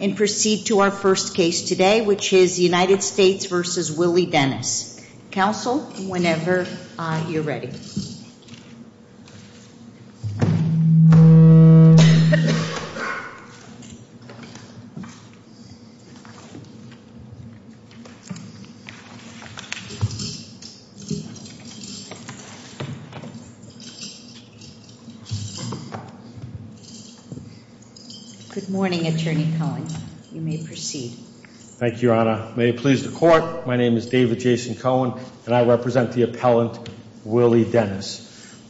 and proceed to our first case today which is United States v. Willie Dennis. Counsel, whenever you're ready. Good morning, Attorney Cohen. You may proceed. Thank you, Your Honor. May it please the Court, my name is David Jason Cohen, and I represent the appellant Willie Dennis.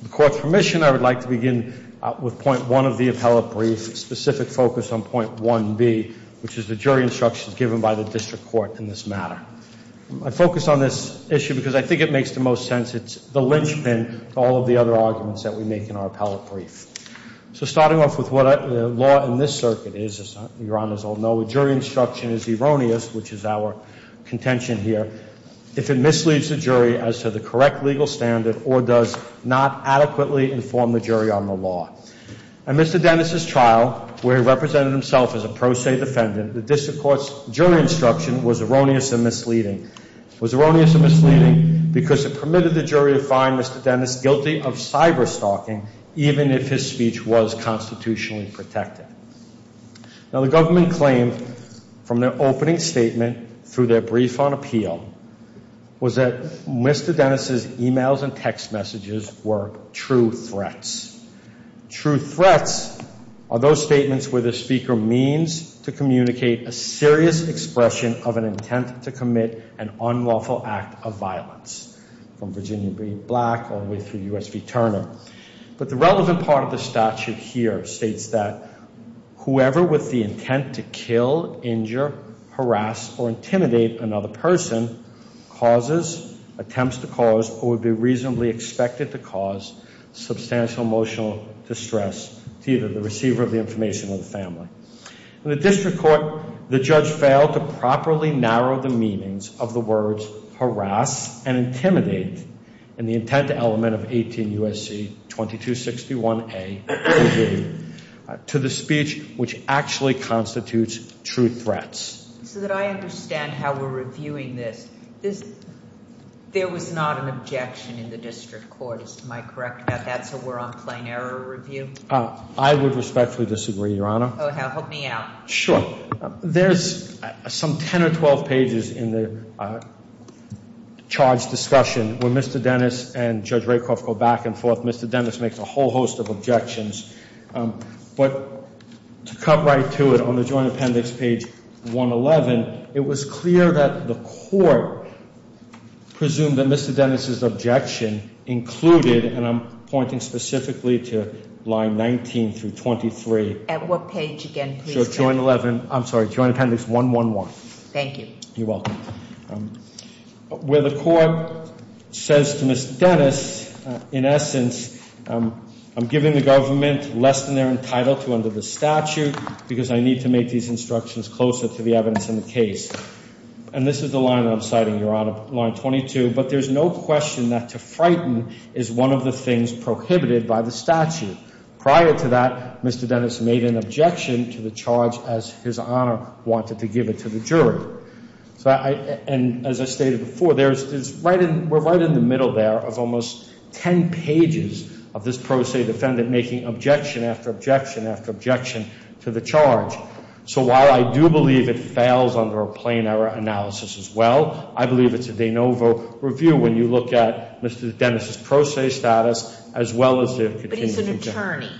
With the Court's permission, I would like to begin with point one of the appellate brief, specific focus on point 1b, which is the jury instructions given by the district court in this matter. I focus on this issue because I think it makes the most sense. It's the linchpin to all of the other arguments that we make in our appellate brief. So starting off with what law in this circuit is, as Your Honors all know, a jury instruction is erroneous, which is our contention here, if it misleads the jury as to the correct legal standard or does not adequately inform the jury on the law. In Mr. Dennis' trial where he represented himself as a pro se defendant, the district court's jury instruction was erroneous and misleading. It was erroneous and misleading because it permitted the jury to find Mr. Dennis guilty of cyberstalking even if his speech was constitutionally protected. Now the government claimed from their opening statement through their brief on appeal was that Mr. Dennis' emails and text messages were true threats. True threats are those statements where the speaker means to communicate a serious expression of an intent to commit an unlawful act of violence. From Virginia B. Black all the way through U.S. v. Turner. But the relevant part of the statute here states that whoever with the intent to kill, injure, harass or intimidate another person causes, attempts to cause or would be reasonably expected to cause substantial emotional distress to either the receiver of the information or the family. In the district court, the judge failed to properly narrow the meanings of the words harass and intimidate in the intent element of 18 U.S.C. 2261A to the speech which actually constitutes true threats. So that I understand how we're reviewing this. There was not an objection in the district court. Am I correct about that? So we're on plain error review? I would respectfully disagree, Your Honor. Help me out. Sure. There's some 10 or 12 pages in the charge discussion where Mr. Dennis and Judge Rakoff go back and forth. Mr. Dennis makes a whole host of objections. But to cut right to it on the joint appendix page 111, it was clear that the court presumed that Mr. Dennis' objection included, and I'm pointing specifically to line 19 through 23. At what page again, please? I'm sorry, joint appendix 111. Thank you. You're welcome. Where the court says to Ms. Dennis, in essence, I'm giving the government less than they're entitled to under the statute because I need to make these instructions closer to the evidence in the case. And this is the line that I'm citing, Your Honor, line 22. But there's no question that to frighten is one of the things prohibited by the statute. Prior to that, Mr. Dennis made an objection to the charge as His Honor wanted to give it to the jury. And as I stated before, we're right in the middle there of almost 10 pages of this pro se defendant making objection after objection after objection to the charge. So while I do believe it fails under a plain error analysis as well, I believe it's a de novo review when you look at Mr. Dennis' pro se status as well as the contingency charge. But he's an attorney.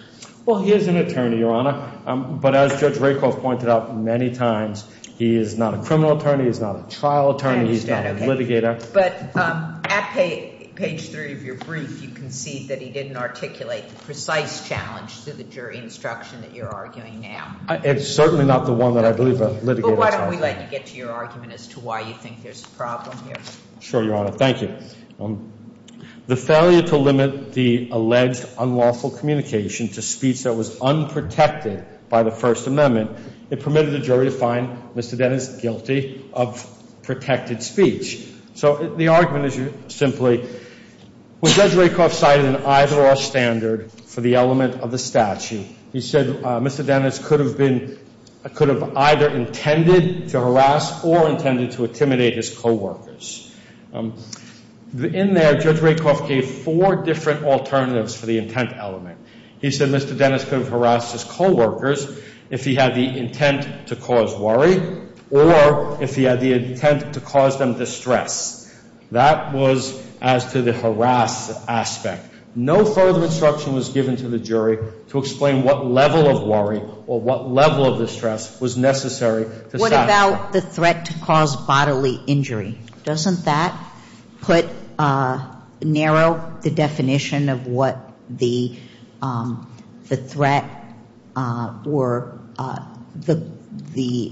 Well, he is an attorney, Your Honor. But as Judge Rakoff pointed out many times, he is not a criminal attorney. He's not a trial attorney. He's not a litigator. But at page 3 of your brief, you concede that he didn't articulate the precise challenge to the jury instruction that you're arguing now. It's certainly not the one that I believe a litigator is arguing. But why don't we let you get to your argument as to why you think there's a problem here. Sure, Your Honor. Thank you. The failure to limit the alleged unlawful communication to speech that was unprotected by the First Amendment, it permitted the jury to find Mr. Dennis guilty of protected speech. So the argument is simply, when Judge Rakoff cited an either-or standard for the element of the statute, he said Mr. Dennis could have been, could have either intended to harass or intended to intimidate his coworkers. In there, Judge Rakoff gave four different alternatives for the intent element. He said Mr. Dennis could have harassed his coworkers if he had the intent to cause worry or if he had the intent to cause them distress. That was as to the harass aspect. No further instruction was given to the jury to explain what level of worry or what level of distress was necessary to satisfy. What about the threat to cause bodily injury? Doesn't that put, narrow the definition of what the threat or the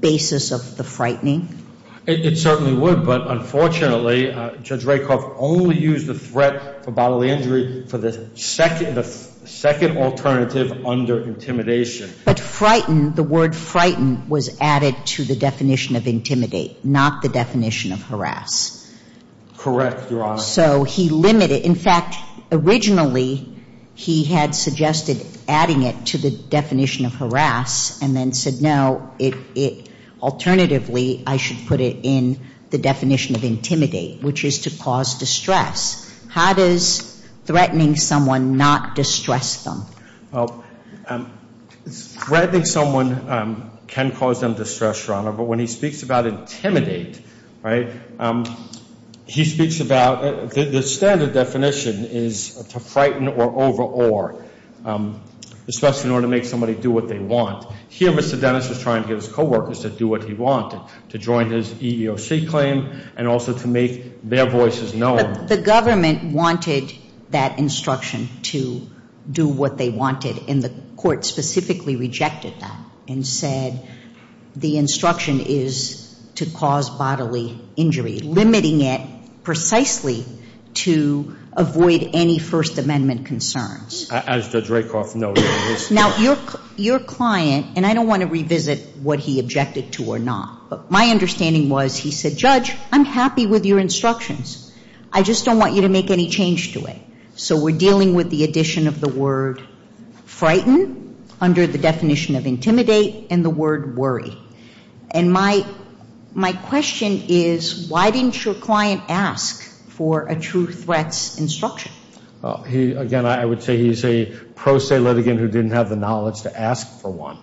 basis of the frightening? It certainly would. But unfortunately, Judge Rakoff only used the threat for bodily injury for the second alternative under intimidation. But frightened, the word frightened was added to the definition of intimidate, not the definition of harass. Correct, Your Honor. So he limited, in fact, originally he had suggested adding it to the definition of harass and then said no, it, it, alternatively, I should put it in the definition of intimidate, which is to cause distress. How does threatening someone not distress them? Well, threatening someone can cause them distress, Your Honor, but when he speaks about intimidate, right, he speaks about, the standard definition is to frighten or over-or, especially in order to make somebody do what they want. Here, Mr. Dennis was trying to get his coworkers to do what he wanted, to join his EEOC claim and also to make their voices known. But the claim was to do what they wanted and the court specifically rejected that and said the instruction is to cause bodily injury, limiting it precisely to avoid any First Amendment concerns. As Judge Rakoff noted. Now, your, your client, and I don't want to revisit what he objected to or not, but my understanding was he said, Judge, I'm happy with your instructions, I just don't want you to make any change to it. So we're dealing with the addition of the word frighten under the definition of intimidate and the word worry. And my, my question is, why didn't your client ask for a true threats instruction? He, again, I would say he's a pro se litigant who didn't have the knowledge to ask for one.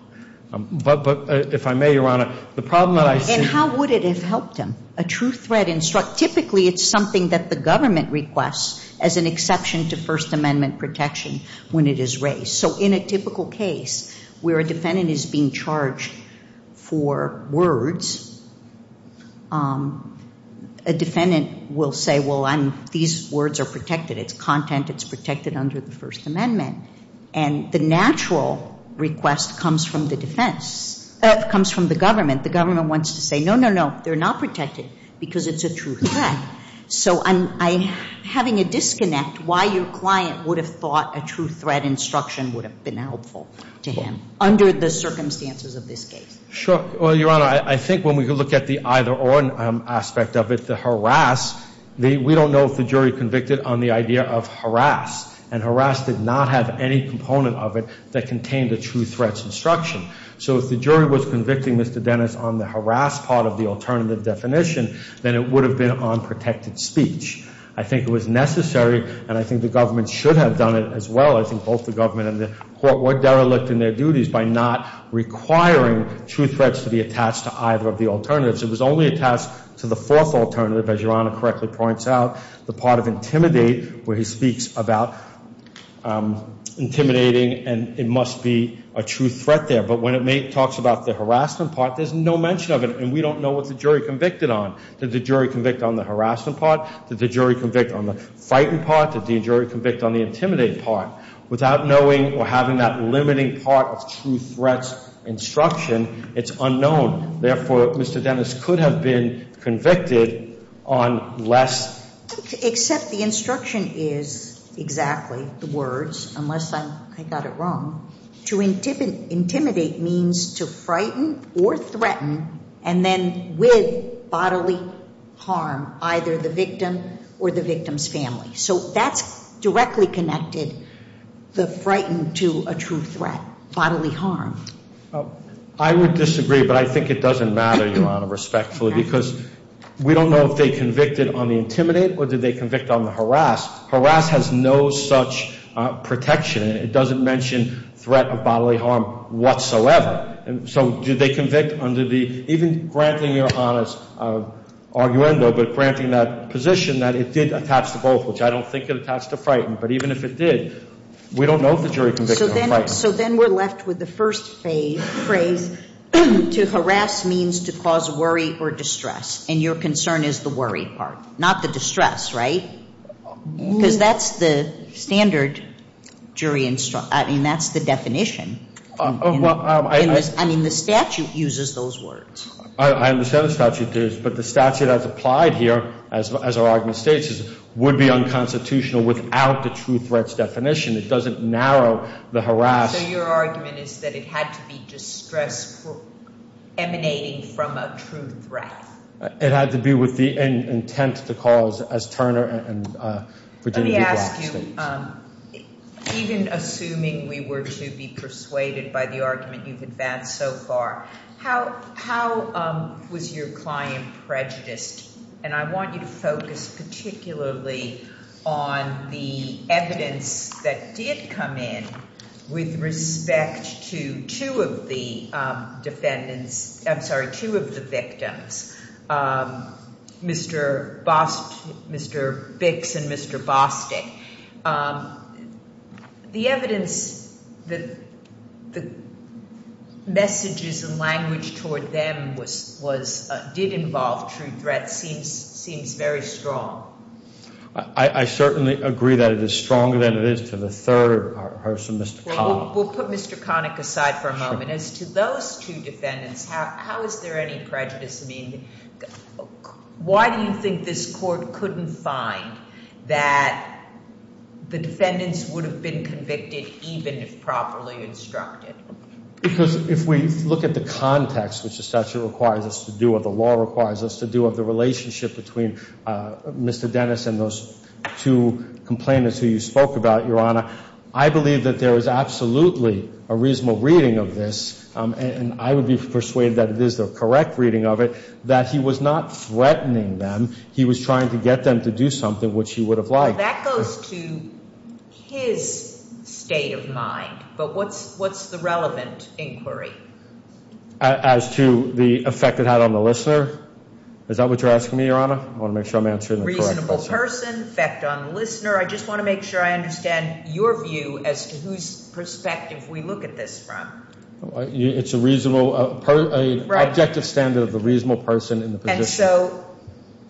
But, but if I may, Your Honor, the problem that I see. And how would it have helped him? A true threat instruct, typically it's something that the government requests as an exception to First Amendment protection when it is raised. So in a typical case where a defendant is being charged for words, a defendant will say, well, I'm, these words are protected. It's content, it's protected under the First Amendment. And the natural request comes from the defense, comes from the government. The government wants to say, no, no, no, they're not protected because it's a true threat. So I'm, I'm having a disconnect why your client would have thought a true threat instruction would have been helpful to him under the circumstances of this case. Sure. Well, Your Honor, I think when we look at the either or aspect of it, the harass, we don't know if the jury convicted on the idea of harass. And harass did not have any component of it that contained a true threats instruction. So if the jury was convicting Mr. Dennis on the harass part of the alternative definition, then it would have been on protected speech. I think it was necessary, and I think the government should have done it as well. I think both the government and the court were derelict in their duties by not requiring true threats to be attached to either of the alternatives. It was only attached to the fourth alternative, as Your Honor correctly points out, the part of intimidate where he speaks about intimidating and it must be a true threat there. But when it talks about the harassment part, there's no mention of it. And we don't know what the jury convicted on. Did the jury convict on the harassment part? Did the jury convict on the fighting part? Did the jury convict on the intimidating part? Without knowing or having that limiting part of true threats instruction, it's unknown. Therefore, Mr. Dennis could have been convicted on less... Except the instruction is exactly the words, unless I got it wrong. To intimidate means to frighten or threaten and then with bodily harm, either the victim or the victim's family. So that's directly connected, the frightened to a true threat, bodily harm. I would disagree, but I think it would be fair to say that we don't know if they convicted on the intimidate or did they convict on the harass. Harass has no such protection. It doesn't mention threat of bodily harm whatsoever. And so do they convict under the, even granting Your Honor's arguendo, but granting that position that it did attach to both, which I don't think it attached to frighten. But even if it did, we don't know if the jury convicted on frighten. So then we're left with the first phrase, to harass means to cause worry or distress. And your concern is the worry part, not the distress, right? Because that's the standard jury instruction. I mean, that's the definition. I mean, the statute uses those words. I understand the statute does, but the statute as applied here, as our argument states, would be unconstitutional without the true threats definition. It doesn't narrow the harass. So your argument is that it had to be distress emanating from a true threat. It had to be with the intent to cause, as Turner and Virginia Black states. Let me ask you, even assuming we were to be persuaded by the argument you've advanced so far, how was your client prejudiced? And I want you to focus particularly on the evidence that did come in with respect to two of the defendants, I'm sorry, two of the victims, Mr. Bix and Mr. Bostic. The evidence that the messages and language toward them did involve true threats seems very strong. I certainly agree that it is stronger than it is to the third person, Mr. Connick. We'll put Mr. Connick aside for a moment. As to those two defendants, how is there any prejudice? I mean, why do you think this court couldn't find that the defendants would have been convicted even if properly instructed? Because if we look at the context, which the statute requires us to do, or the law requires us to do, of the relationship between Mr. Dennis and those two complainants who you spoke about, Your Honor, I believe that there is absolutely a reasonable reading of this, and I would be persuaded that it is the correct reading of it, that he was not threatening them. He was trying to get them to do something which he would have liked. Well, that goes to his state of mind. But what's the relevant inquiry? As to the effect it had on the listener? Is that what you're asking me, Your Honor? I want to make sure I'm answering the question of the reasonable person, the effect on the listener. I just want to make sure I understand your view as to whose perspective we look at this from. It's an objective standard of the reasonable person in the position. And so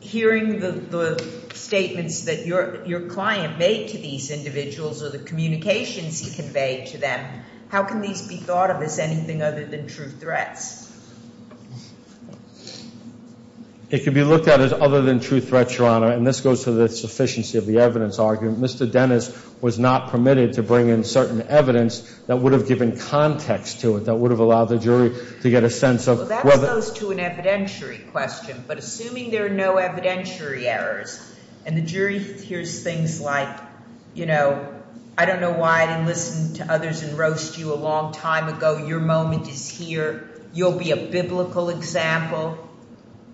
hearing the statements that your client made to these individuals or the communications he conveyed to them, how can these be thought of as anything other than true threats? It can be looked at as other than true threats, Your Honor, and this goes to the sufficiency of the evidence argument. Mr. Dennis was not permitted to bring in certain evidence that would have given context to it, that would have allowed the jury to get a sense of whether Well, that goes to an evidentiary question. But assuming there are no evidentiary errors, and the jury hears things like, you know, I don't know why I didn't listen to others and roast you a long time ago. Your moment is here. You'll be a biblical example.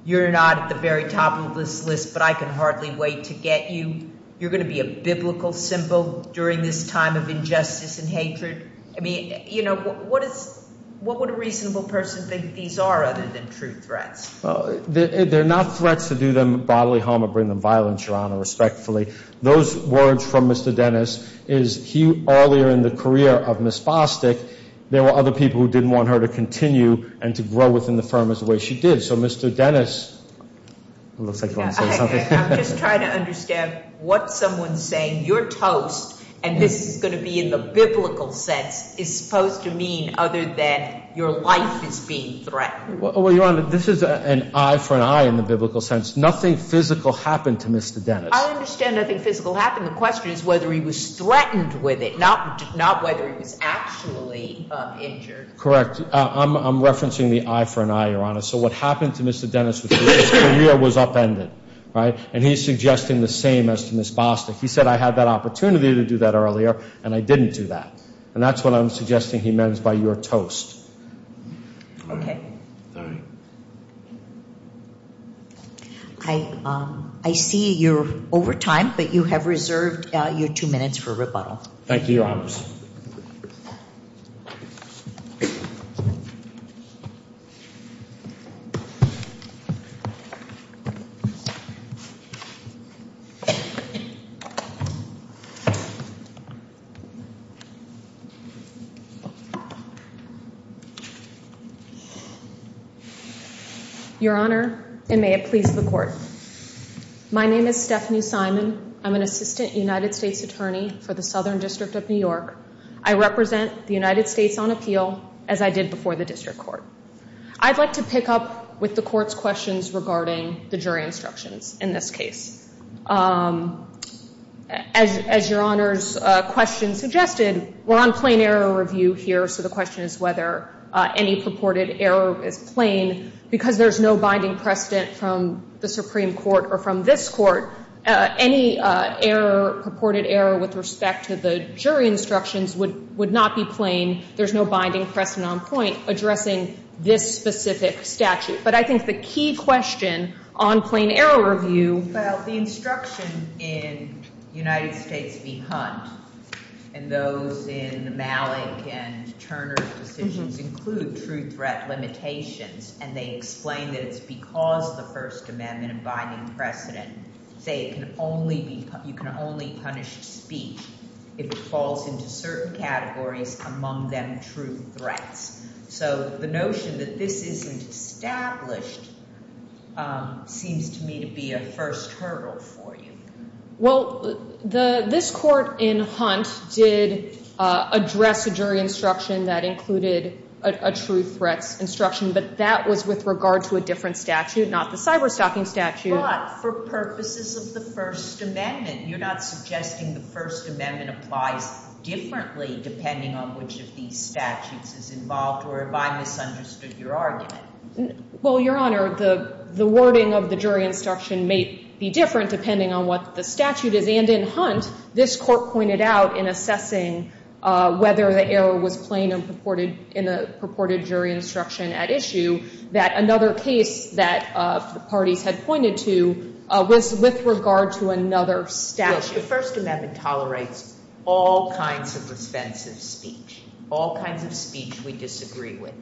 You're not at the very top of this list, but I can hardly wait to get you. You're going to be a biblical symbol during this time of injustice and hatred. I mean, you know, what would a reasonable person think these are other than true threats? They're not threats to do them bodily harm or bring them violence, Your Honor, respectfully. Those words from Mr. Dennis is he, earlier in the career of Ms. Fostick, there were other people who didn't want her to continue. And to grow within the firm as the way she did. So, Mr. Dennis, it looks like you want to say something. I'm just trying to understand what someone saying, you're toast, and this is going to be in the biblical sense, is supposed to mean other than your life is being threatened. Well, Your Honor, this is an eye for an eye in the biblical sense. Nothing physical happened to Mr. Dennis. I understand nothing physical happened. The question is whether he was threatened with it, not whether he was actually injured. Correct. I'm referencing the eye for an eye, Your Honor. So what happened to Mr. Dennis was his career was upended, right? And he's suggesting the same as to Ms. Fostick. He said, I had that opportunity to do that earlier, and I didn't do that. And that's what I'm suggesting he meant by you're toast. I see you're over time, but you have reserved your two minutes for rebuttal. Thank you, Your Honors. Your Honor, and may it please the Court. My name is Stephanie Simon. I'm an assistant United States attorney for the Southern District of New York. I represent the United States on appeal, as I did before the District Court. I'd like to pick up with the Court's questions regarding the jury instructions in this case. As Your Honor's question suggested, we're on plain error review here, so the question is whether any purported error is plain, because there's no binding precedent from the Supreme Court or from this Court. Any error, purported error with respect to the jury instructions would not be plain. There's no binding precedent on point addressing this specific statute. But I think the key question on plain error review... Well, the instruction in United States v. Hunt, and those in Malik and Turner's decisions, include true threat limitations, and they explain that it's because of the First Amendment and binding precedent. They say you can only punish speech if it falls into certain categories, among them true threats. So the notion that this isn't established seems to me to be a first hurdle for you. Well, this Court in Hunt did address a jury instruction that included a true threats instruction, but that was with regard to a different statute, not the cyberstalking statute. But for purposes of the First Amendment, you're not suggesting the First Amendment applies differently depending on which of these statutes is involved, or have I misunderstood your argument? Well, Your Honor, the wording of the jury instruction may be different depending on what the statute is. And in Hunt, this Court pointed out in assessing whether the error was plain and purported in a purported jury instruction at issue, that another case that the parties had pointed to was with regard to another statute. The First Amendment tolerates all kinds of offensive speech, all kinds of speech we disagree with.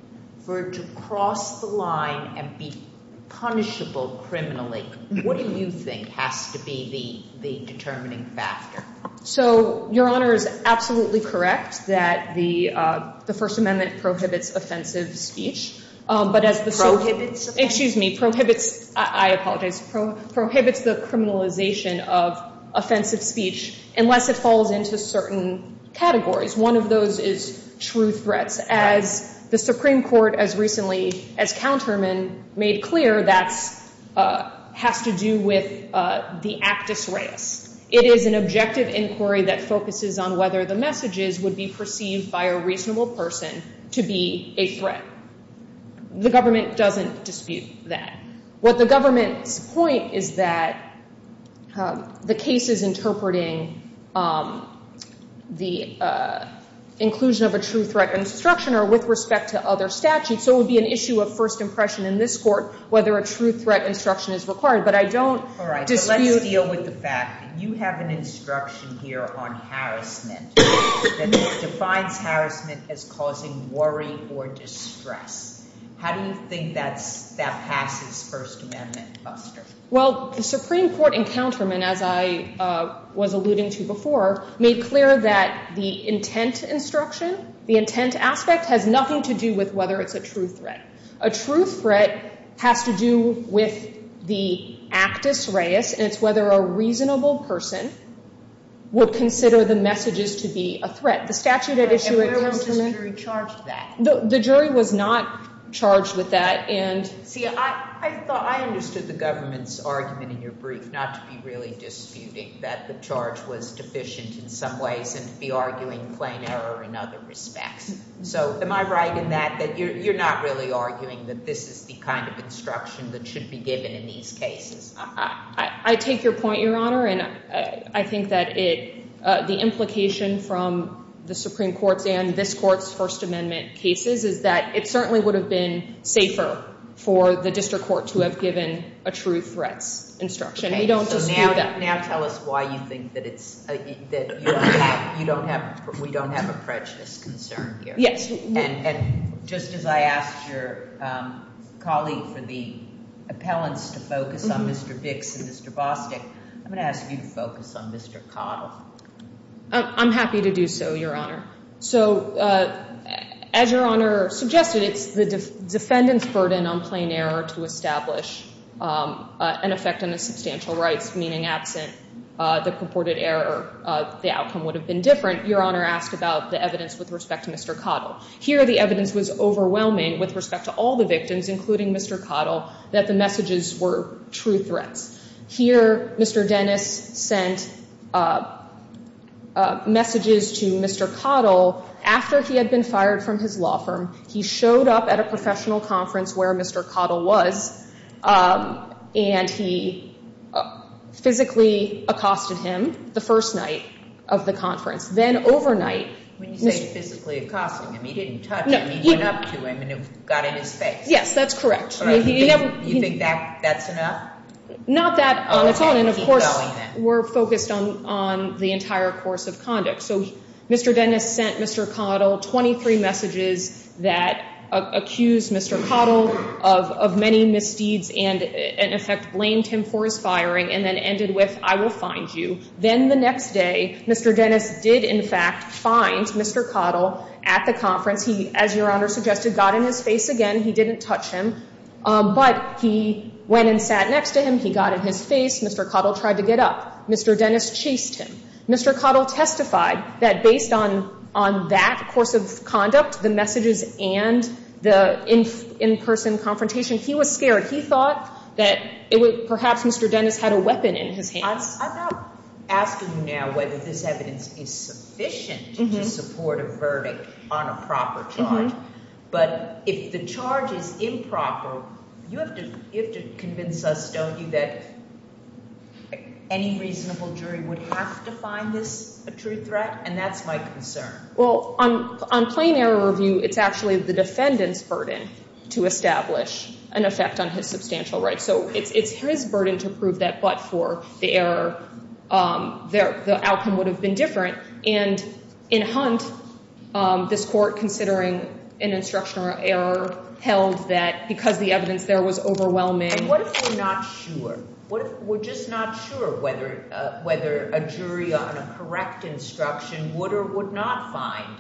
For it to cross the line and be punishable criminally, what do you think has to be the determining factor? So, Your Honor is absolutely correct that the First Amendment prohibits offensive speech. I apologize. Prohibits the criminalization of offensive speech unless it falls into certain categories. One of those is true threats. As the Supreme Court, as recently as Counterman, made clear, that has to do with the actus reus. It is an objective inquiry that focuses on whether the messages would be perceived by a reasonable person to be a threat. The government doesn't dispute that. What the government's point is that the case is interpreting the inclusion of a true threat instruction or with respect to other statutes. So it would be an issue of first impression in this court whether a true threat instruction is required. But I don't dispute... You have an instruction here on harassment that defines harassment as causing worry or distress. How do you think that passes First Amendment? Well, the Supreme Court in Counterman, as I was alluding to before, made clear that the intent instruction, the intent aspect, has nothing to do with whether it's a true threat. A true threat has to do with the actus reus, and it's whether a reasonable person would consider the messages to be a threat. The statute at issue at Counterman... And where was this jury charged with that? The jury was not charged with that. See, I understood the government's brief not to be really disputing that the charge was deficient in some ways and be arguing plain error in other respects. So am I right in that that you're not really arguing that this is the kind of instruction that should be given in these cases? I take your point, Your Honor, and I think that the implication from the Supreme Court's and this Court's First Amendment cases is that it certainly would have been safer for the district court to have given a true threats instruction. We don't dispute that. Okay, so now tell us why you think that we don't have a prejudice concern here. Yes. And just as I asked your colleague for the appellants to focus on Mr. Bix and Mr. Bostick, I'm going to ask you to focus on Mr. Cottle. I'm happy to do so, Your Honor. So as Your Honor suggested, it's the defendant's burden on plain error to establish an effect on the substantial rights, meaning absent the purported error, the outcome would have been different. Your Honor asked about the evidence with respect to Mr. Cottle. Here, the evidence was overwhelming with respect to all the victims, including Mr. Cottle, that the messages were true threats. Here, Mr. Dennis sent messages to Mr. Cottle after he had been fired from his law firm. He showed up at a professional conference where Mr. Cottle was, and he physically accosted him the first night of the conference. Then overnight... When you say physically accosting him, he didn't touch him. He went up to him and it got in his face. Yes, that's correct. You think that's enough? Not that on its own. And of course, we're focused on the entire course of conduct. So Mr. Dennis sent Mr. Cottle 23 messages that accused Mr. Cottle of many misdeeds and in effect blamed him for his firing and then ended with, I will find you. Then the next day, Mr. Dennis did in fact find Mr. Cottle at the conference. He, as Your Honor suggested, got in his face again. He didn't touch him. But he went and sat next to him. He got in his face. Mr. Cottle tried to get up. Mr. Dennis chased him. Mr. Cottle testified that based on that course of conduct, the messages and the in-person confrontation, he was scared. He thought that perhaps Mr. Dennis had a weapon in his hands. I'm not asking you now whether this evidence is sufficient to support a verdict on a proper charge. But if the charge is improper, you have to convince us, don't you, that any reasonable jury would have to find this a true threat? And that's my concern. Well, on plain error review, it's actually the defendant's burden to establish an effect on his substantial rights. So it's his burden to prove that, but for the error, the outcome would have been different. And in Hunt, this Court, considering an instruction error, held that because the evidence there was overwhelming... And what if we're not sure? What if we're just not sure whether a jury on a correct instruction would or would not find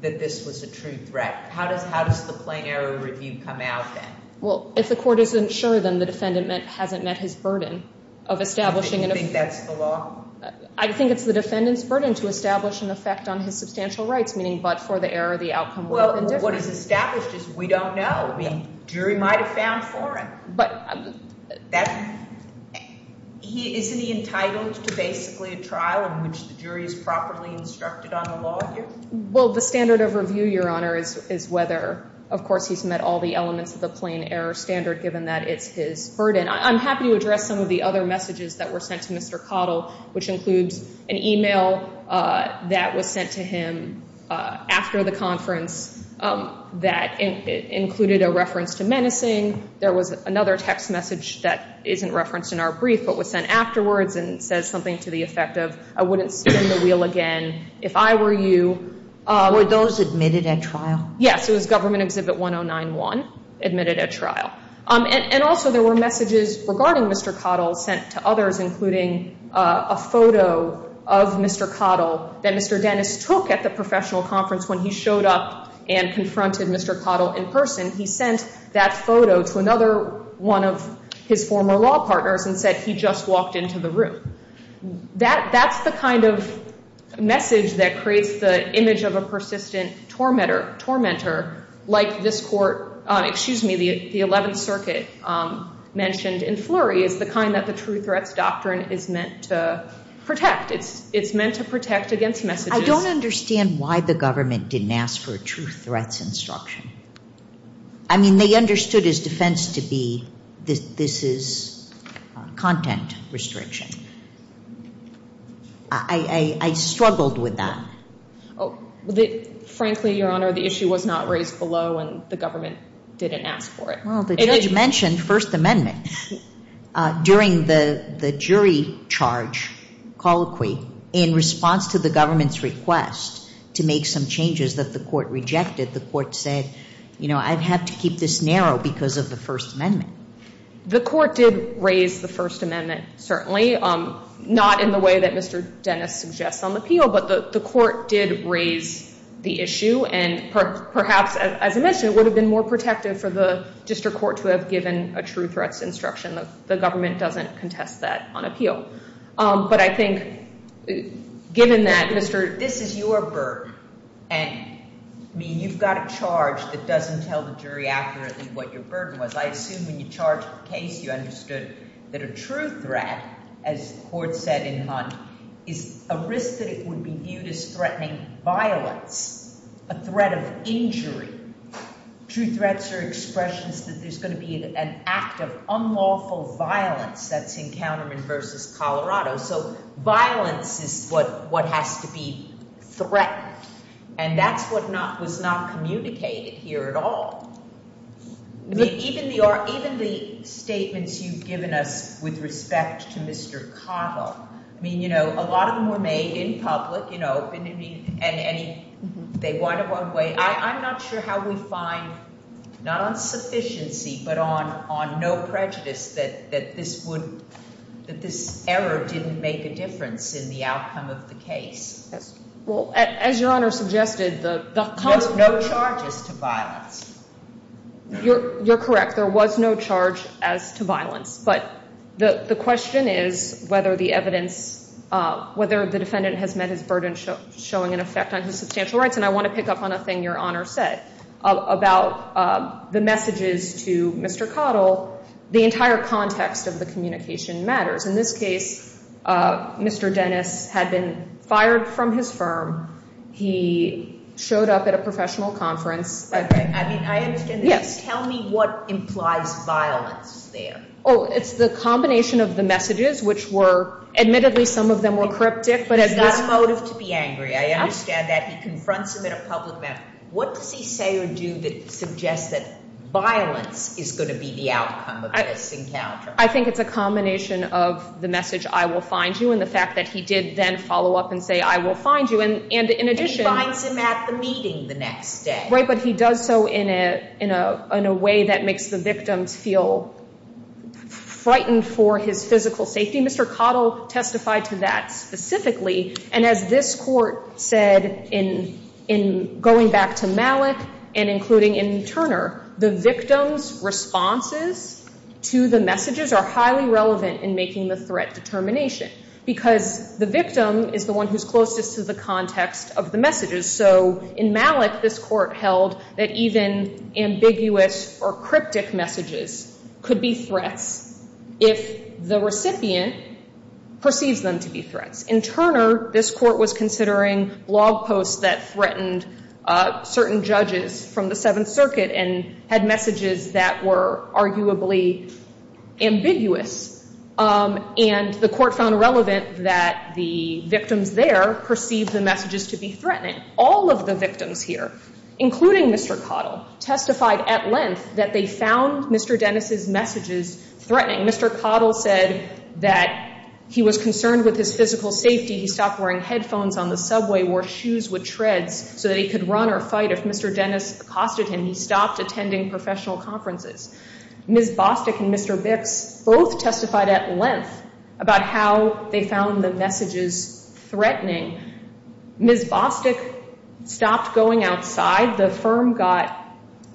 that this was a true threat? How does the plain error review come out then? Well, if the Court isn't sure, then the defendant hasn't met his burden of establishing... You think that's the law? I think it's the defendant's burden to establish an effect on his substantial rights, meaning but for the error, the outcome would have been different. Well, what is established is we don't know. The jury might have found foreign. But... Isn't he entitled to basically a trial in which the jury is properly instructed on the law here? Well, the standard of review, Your Honor, is whether... Of course, he's met all the elements of the plain error standard, given that it's his burden. I'm happy to address some of the other messages that were sent to Mr. Cottle, which includes an email that was sent to him after the conference that included a reference to menacing. There was another text message that isn't referenced in our brief, but was sent afterwards and says something to the effect of I wouldn't spin the wheel again if I were you. Were those admitted at trial? Yes, it was Government Exhibit 1091, admitted at trial. And also there were messages regarding Mr. Cottle sent to others, including a photo of Mr. Cottle that Mr. Dennis took at the professional conference when he showed up and confronted Mr. Cottle in person. He sent that photo to another one of his former law partners and said he just walked into the room. That's the kind of message that creates the image of a persistent tormentor, like this court, excuse me, the 11th Circuit mentioned in Fleury, is the kind that the true threats doctrine is meant to protect. It's meant to protect against messages. I don't understand why the government didn't ask for a true threats instruction. I mean, they understood his defense to be this is content restriction. I struggled with that. Frankly, Your Honor, the issue was not raised below and the government didn't ask for it. Well, the judge mentioned First Amendment during the jury charge colloquy in response to the government's request to make some changes that the court rejected. The court said, you know, I'd have to keep this narrow because of the First Amendment. The court did raise the First Amendment, certainly not in the way that Mr. Dennis suggests on appeal, but the court did raise the issue and perhaps, as I mentioned, it would have been more protective for the district court to have given a true threats instruction. The government doesn't contest that on appeal. But I think given that, Mr. This is your burden. I mean, you've got a charge that doesn't tell the jury accurately what your burden was. I assume when you charged the case you understood that a true threat, as the court said in Hunt, is a risk that it would be viewed as threatening violence, a threat of injury. True threats are expressions that there's going to be an act of unlawful violence. That's encounterment versus Colorado. So violence is what has to be threatened. And that's what was not communicated here at all. Even the statements you've given us with respect to Mr. Cottle. I mean, you know, a lot of them were made in public, you know, and they wind up one way. I'm not sure how we find, not on sufficiency, but on no prejudice that this error didn't make a difference in the outcome of the case. No charges to violence. You're correct. There was no charge as to violence. But the question is whether the evidence, whether the defendant has met his burden showing an effect on his substantial rights. And I want to pick up on a thing your Honor said about the messages to Mr. Cottle. The entire context of the communication matters. In this case, Mr. Dennis had been fired from his firm. He showed up at a professional conference. I mean, I understand this. Tell me what implies violence there. Oh, it's the combination of the messages, which were admittedly some of them were cryptic. He's got a motive to be angry. I understand that. He confronts him in a public matter. What does he say or do that suggests that violence is going to be the outcome of this encounter? I think it's a combination of the message, I will find you, and the fact that he did then follow up and say, I will find you. And in addition. He finds him at the meeting the next day. Right, but he does so in a way that makes the victims feel frightened for his physical safety. Mr. Cottle testified to that specifically. And as this court said in going back to Malik and including in Turner, the victims responses to the messages are highly relevant in making the threat determination. Because the victim is the one who's closest to the context of the messages. So in Malik, this court held that even ambiguous or cryptic messages could be threats if the recipient perceives them to be threats. In Turner, this court was considering blog posts that threatened certain judges from the Seventh Circuit and had messages that were arguably ambiguous. And the court found relevant that the victims there perceived the messages to be threatening. All of the victims here, including Mr. Cottle, testified at length that they he was concerned with his physical safety. He stopped wearing headphones on the subway, wore shoes with treads so that he could run or fight. If Mr. Dennis accosted him, he stopped attending professional conferences. Ms. Bostick and Mr. Bix both testified at length about how they found the messages threatening. Ms. Bostick stopped going outside. The firm got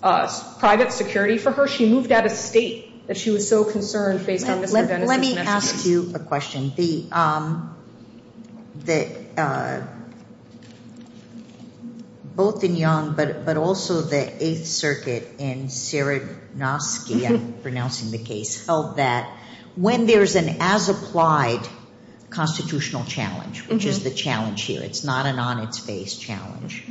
private security for her. She moved out of state that she was so concerned based on Mr. Dennis' messages. Let me ask you a question. Both in Young, but also the Eighth Circuit in Sieradnowski, I'm pronouncing the case, held that when there's an as-applied constitutional challenge, which is the challenge here, it's not an on-its-face challenge,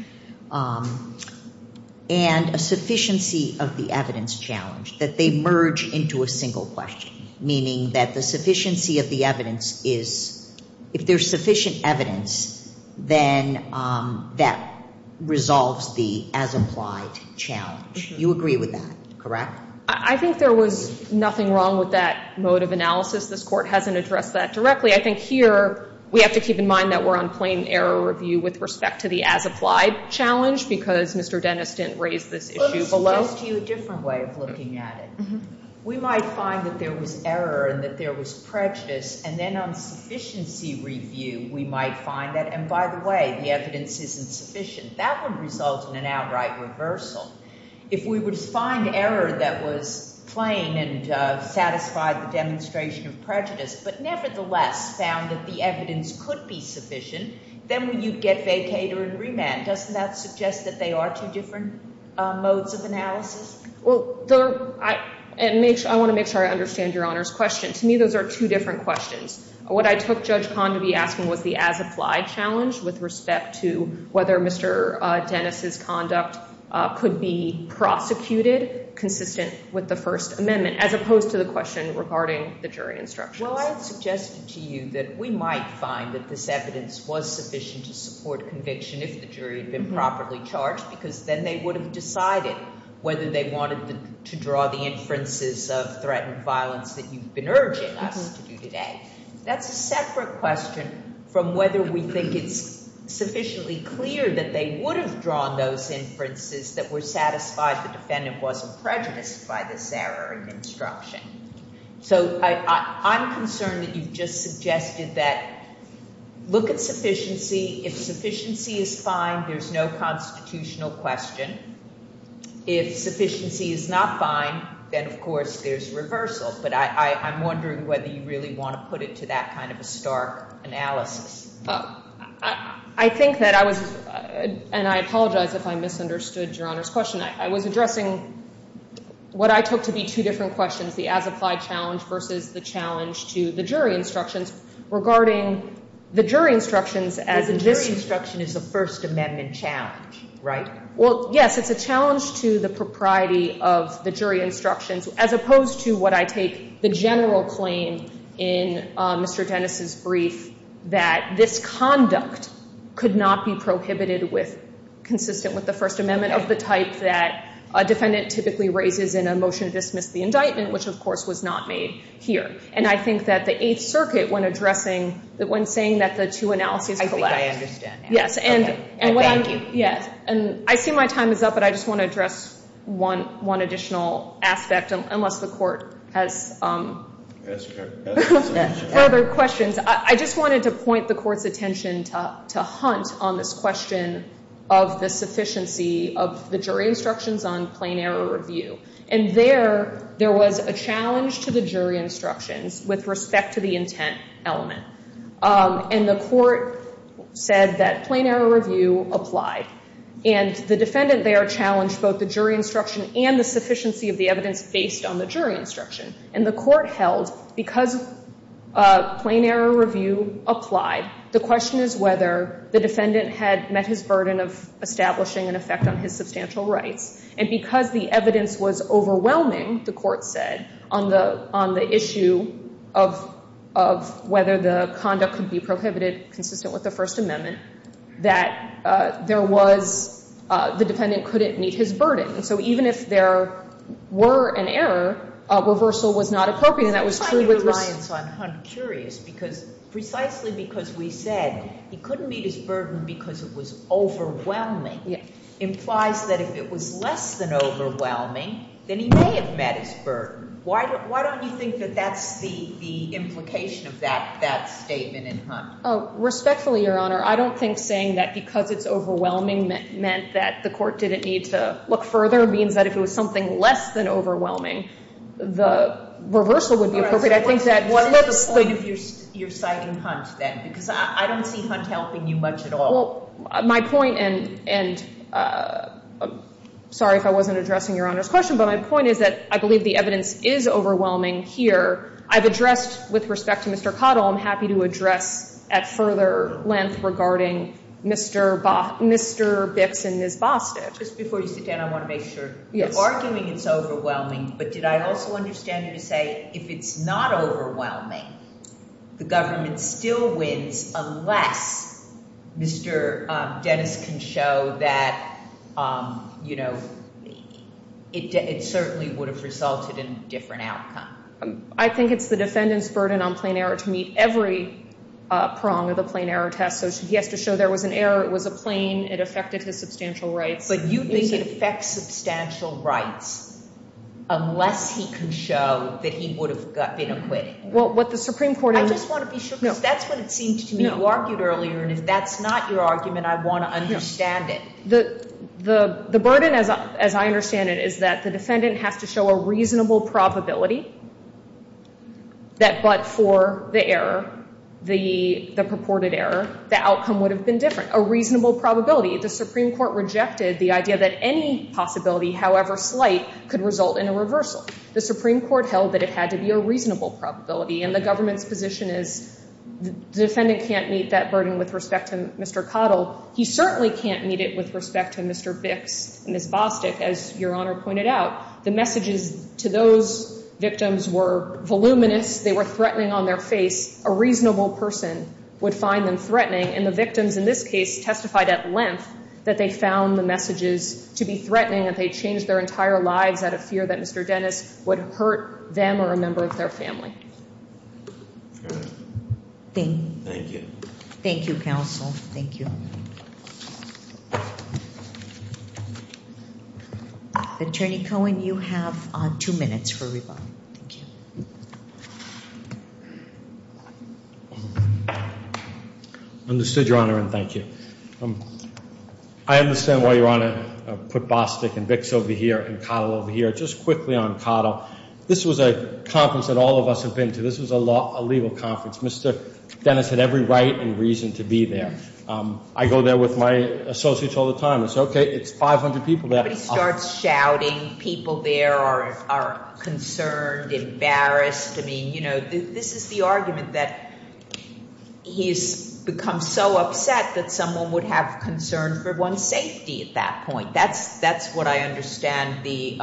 and a sufficiency of the evidence challenge, that they merge into a single question, meaning that the sufficiency of the evidence is, if there's sufficient evidence, then that resolves the as-applied challenge. You agree with that, correct? I think there was nothing wrong with that mode of analysis. This court hasn't addressed that directly. I think here, we have to keep in mind that we're on plain error review with respect to the as-applied challenge, because Mr. Dennis didn't raise this issue below. Let me suggest to you a different way of looking at it. We might find that there was error and that there was prejudice, and then on sufficiency review, we might find that, and by the way, the evidence isn't sufficient. That would result in an outright reversal. If we would find error that was plain and satisfied the demonstration of prejudice, but nevertheless found that the evidence could be sufficient, then you'd get vacater and remand. Doesn't that suggest that they are two different modes of analysis? I want to make sure I understand Your Honor's question. To me, those are two different questions. What I took Judge Kahn to be asking was the as-applied challenge with respect to whether Mr. Dennis's conduct could be prosecuted consistent with the First Amendment, as opposed to the question regarding the jury instructions. Well, I suggested to you that we might find that this evidence was sufficient to support conviction if the jury had been properly charged, because then they would have decided whether they wanted to draw the inferences of threatened violence that you've been urging us to do today. That's a separate question from whether we think it's sufficiently clear that they would have drawn those inferences that were satisfied the defendant wasn't prejudiced by this error in instruction. So I'm concerned that you've just suggested that look at sufficiency. If sufficiency is fine, there's no constitutional question. If sufficiency is not fine, then, of course, there's reversal. But I'm wondering whether you really want to put it to that kind of a stark analysis. I think that I was and I apologize if I misunderstood Your Honor's question. I was addressing what I took to be two different questions, the as-applied challenge versus the challenge to the jury instructions regarding the jury instructions. Because the jury instruction is a First Amendment challenge, right? Well, yes, it's a challenge to the propriety of the jury instructions, as opposed to what I take the general claim in Mr. Dennis' brief, that this conduct could not be prohibited with consistent with the First Amendment of the type that a defendant typically raises in a motion to dismiss the indictment, which of course was not made here. And I think that the Eighth Circuit, when addressing, when saying that the two analyses collide. I think I understand. Thank you. I see my time is up, but I just want to address one additional aspect, unless the Court has further questions. I just wanted to point the Court's attention to Hunt on this question of the sufficiency of the jury instructions on plain error review. And there, there was a challenge to the jury instructions with respect to the intent element. And the Court said that plain error review applied. And the defendant there challenged both the jury instruction and the sufficiency of the evidence based on the jury instruction. And the Court held because plain error review applied, the question is whether the defendant had met his burden. And the Court said that the defendant was overwhelming, the Court said, on the issue of whether the conduct could be prohibited consistent with the First Amendment, that there was, the defendant couldn't meet his burden. And so even if there were an error, a reversal was not appropriate. And that was true with respect to the jury instructions. But the fact that the defendant met his burden because it was overwhelming implies that if it was less than overwhelming, then he may have met his burden. Why don't you think that that's the implication of that statement in Hunt? Respectfully, Your Honor, I don't think saying that because it's overwhelming meant that the Court didn't need to look further means that if it was something less than overwhelming, the reversal would be appropriate. I think that... What is the point of your citing Hunt then? Because I don't see Hunt helping you much at all. My point, and sorry if I wasn't addressing Your Honor's question, but my point is that I believe the evidence is overwhelming here. I've addressed, with respect to Mr. Cottle, I'm happy to address at further length regarding Mr. Bix and his Bostitch. Just before you sit down, I want to make sure, you're arguing it's overwhelming, but did I also understand you to say if it's not overwhelming, the government still wins unless Mr. Dennis can show that you know, it certainly would have resulted in a different outcome. I think it's the defendant's burden on plain error to meet every prong of the plain error test. So he has to show there was an error, it was a plain, it affected his substantial rights. But you think it affects substantial rights unless he can show that he would have been acquitted? Well, what the Supreme Court... I just want to be sure, because that's what it seemed to me you argued earlier, and if that's not your argument, I want to understand it. The burden, as I understand it, is that the defendant has to show a reasonable probability that but for the error, the purported error, the outcome would have been different. A reasonable probability. The Supreme Court rejected the idea that any possibility, however slight, could result in a reversal. The Supreme Court held that it had to be a reasonable probability, and the government's position is the defendant can't meet that burden with respect to Mr. Cottle. He certainly can't meet it with respect to Mr. Bix and Ms. Bostic, as Your Honor pointed out. The messages to those victims were voluminous. They were threatening on their face. A reasonable person would find them threatening, and the victims in this case testified at length that they found the messages to be threatening, that they changed their entire lives out of fear that Mr. Dennis would hurt them or a member of their family. Thank you. Thank you, counsel. Thank you. Attorney Cohen, you have two minutes for rebuttal. Understood, Your Honor, and thank you. I understand why Your Honor put Bostic and Bix over here and Cottle over here. Just quickly on Cottle, this was a conference that all of us have been to. This was a legal conference. Mr. Dennis had every right and reason to be there. I go there with my associates all the time. I say, okay, it's 500 people there. Everybody starts shouting. People there are concerned, embarrassed. I mean, you know, this is the argument that he's become so upset that someone would have concern for one's safety at that point. That's what I understand the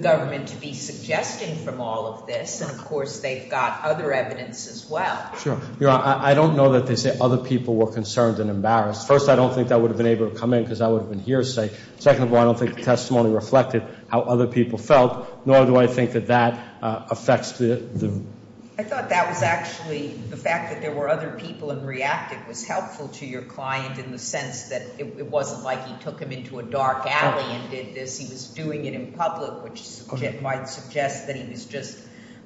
government to be suggesting from all of this, and, of course, they've got other evidence as well. Sure. Your Honor, I don't know that they say other people were concerned and embarrassed. First, I don't think that would have been able to come in because that would have been hearsay. Second of all, I don't think the testimony reflected how other people felt, nor do I think that that affects the testimony. I thought that was actually the fact that there were other people in reacting was helpful to your client in the sense that it wasn't like he took him into a dark alley and did this. He was doing it in public, which might suggest that he was just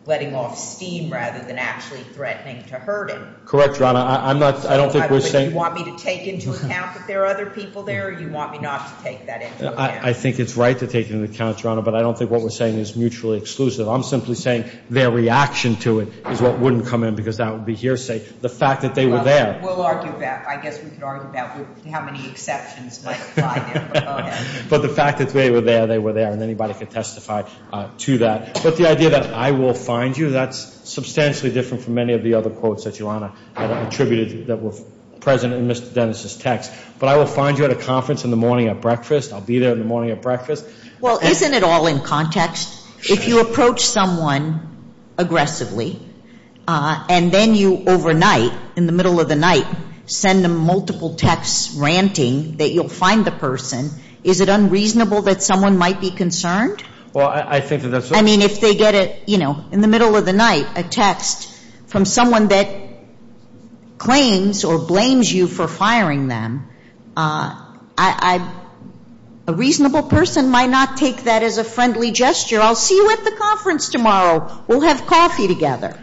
letting off steam rather than actually threatening to hurt him. Correct, Your Honor. I don't think we're saying... Do you want me to take into account that there are other people there, or do you want me not to take that into account? I think it's right to take it into account, Your Honor, but I don't think what we're saying is mutually exclusive. I'm simply saying their reaction to it is what wouldn't come in because that would be hearsay. The fact that they were there... Well, we'll argue that. I guess we could argue that with how many exceptions might apply there, but go ahead. But the fact that they were there, they were there, and anybody could testify to that. But the idea that I will find you, that's substantially different from many of the other quotes that you, Your Honor, have attributed that were at a conference in the morning at breakfast. I'll be there in the morning at breakfast. Well, isn't it all in context? If you approach someone aggressively, and then you overnight, in the middle of the night, send them multiple texts ranting that you'll find the person, is it unreasonable that someone might be concerned? Well, I think that that's... I mean, if they get, you know, in the middle of the night, a text from someone that claims or blames you for firing them, a reasonable person might not take that as a friendly gesture. I'll see you at the conference tomorrow. We'll have coffee together.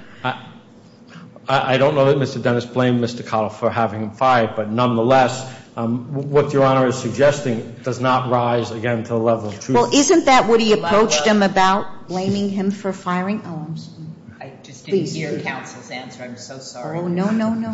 I don't know that Mr. Dennis blamed Mr. Cottle for having him fired, but nonetheless, what Your Honor is suggesting does not rise, again, to the level of truth. Well, isn't that what he approached him about? Blaming him for firing? Oh, I'm sorry. I just didn't hear counsel's answer. I'm so sorry. Oh, no, no, no,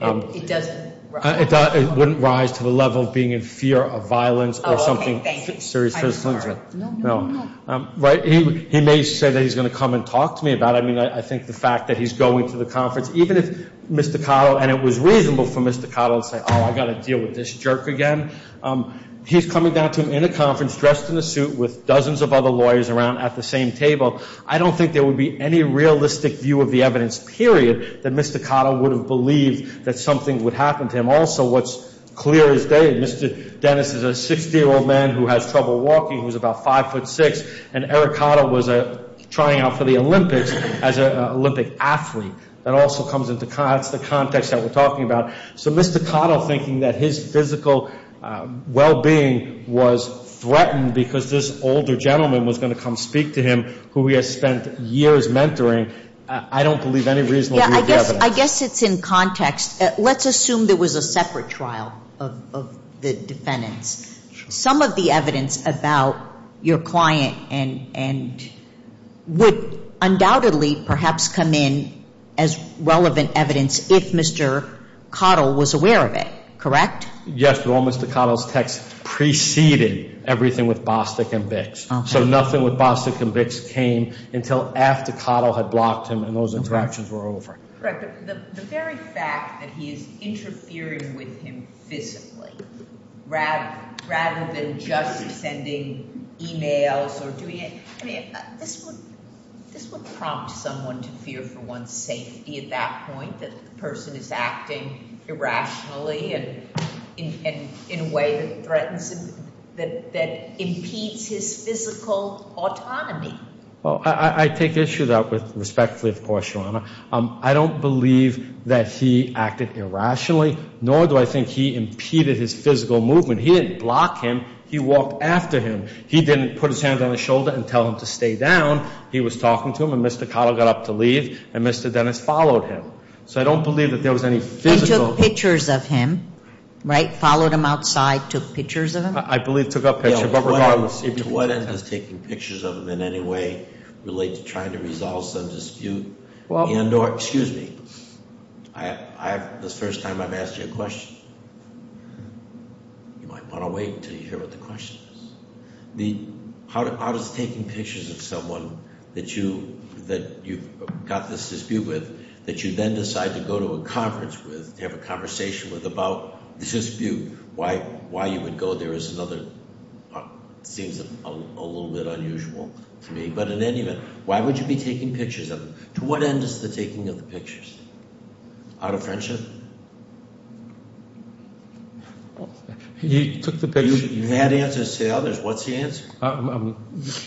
no. It doesn't rise. It wouldn't rise to the level of being in fear of violence or something serious. I'm sorry. No, no, no, no. Right? He may say that he's going to come and talk to me about it. I mean, I think the fact that he's going to the conference, even if Mr. Cottle, and it was reasonable for Mr. Cottle to say, oh, I've got to deal with this jerk again. He's coming down to him in a conference, dressed in a suit with dozens of other lawyers around at the same table. I don't think there would be any realistic view of the evidence, period, that Mr. Cottle would have believed that something would happen to him. Also, what's clear as day, Mr. Dennis is a 60-year-old man who has trouble walking. He was about 5'6", and Eric Cottle was trying out for the Olympics as an Olympic athlete. That also comes into the context that we're talking about. So Mr. Cottle thinking that his physical well-being was threatened because this older gentleman was going to come speak to him, who he has spent years mentoring, I don't believe any reasonable view of the evidence. I guess it's in context. Let's assume there was a separate trial of the defendants. Some of the evidence about your client and would undoubtedly perhaps come in as relevant evidence if Mr. Cottle was aware of it, correct? Yes, but all Mr. Cottle's texts preceded everything with Bostic and Vicks. So nothing with Bostic and Vicks came until after Cottle had blocked him and those interactions were over. The very fact that he is interfering with him physically rather than just sending emails or doing anything, this would prompt someone to fear for one's safety at that point, that the person is acting irrationally and in a way that threatens, that impedes his physical autonomy. Well, I take issue with that respectfully, of course, Your Honor. I don't believe that he acted irrationally, nor do I think he impeded his physical movement. He didn't block him. He walked after him. He didn't put his hand on his shoulder and tell him to stay down. He was talking to him and Mr. Cottle got up to leave and Mr. Dennis followed him. So I don't believe that there was any physical... He took pictures of him, right? Followed him outside, took pictures of him? I believe took a picture, but regardless... To what end is taking pictures of him in any way related to trying to resolve some dispute? This is the first time I've asked you a question. You might want to wait until you hear what the question is. How does taking pictures of someone that you've got this dispute with, that you then decide to go to a conference with, to have a conversation with about the dispute, why you would go there is another... Seems a little bit unusual to me. But in any event, why would you be taking pictures of him? To what end is the taking of the pictures? Out of friendship? He took the picture. You had answers to the others. What's the answer?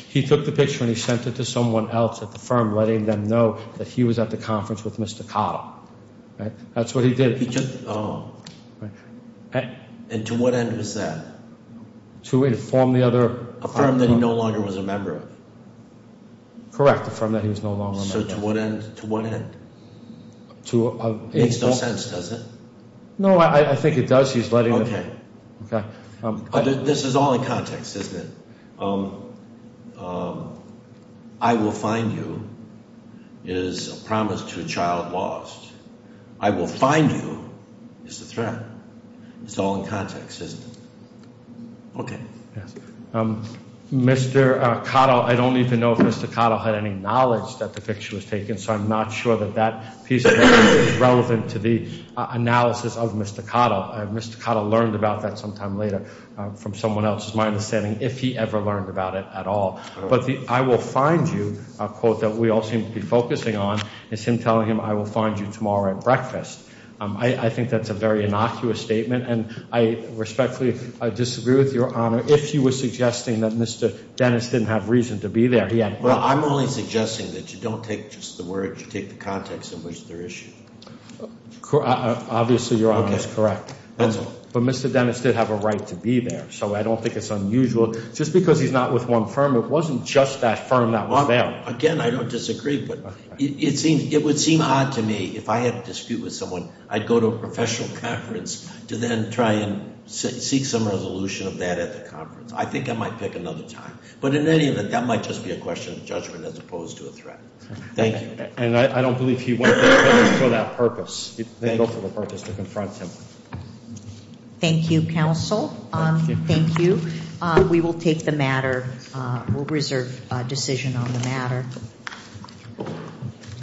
He took the picture and he sent it to someone else at the firm, letting them know that he was at the conference with Mr. Cottle. That's what he did. And to what end was that? To inform the other... A firm that he no longer was a member of. Correct. A firm that he was no longer a member of. So to what end? Makes no sense, does it? No, I think it does. He's letting... This is all in context, isn't it? I will find you is a promise to a child lost. I will find you is a threat. It's all in context, isn't it? Okay. Mr. Cottle, I don't even know if Mr. Cottle had any knowledge that the picture was taken, so I'm not sure that that piece of evidence is relevant to the analysis of Mr. Cottle. Mr. Cottle learned about that sometime later from someone else, is my understanding, if he ever learned about it at all. But the I will find you quote that we all seem to be focusing on is him telling him, I will find you tomorrow at breakfast. I think that's a very innocuous statement, and I respectfully disagree with Your Honor if he was suggesting that Mr. Dennis didn't have reason to be there. Well, I'm only suggesting that you don't take just the words, you take the context in which they're issued. Obviously, Your Honor, that's correct. But Mr. Dennis did have a right to be there, so I don't think it's unusual. Just because he's not with one firm, it wasn't just that firm that was there. Again, I don't disagree, but it would seem odd to me if I had a dispute with someone, I'd go to a professional conference to then try and seek some resolution of that at the conference. I think I might pick another time. But in any event, that might just be a question of judgment as opposed to a threat. Thank you. And I don't believe he went there for that purpose. He didn't go for the purpose to confront him. Thank you, counsel. Thank you. We will take the matter. We'll reserve a decision on the matter.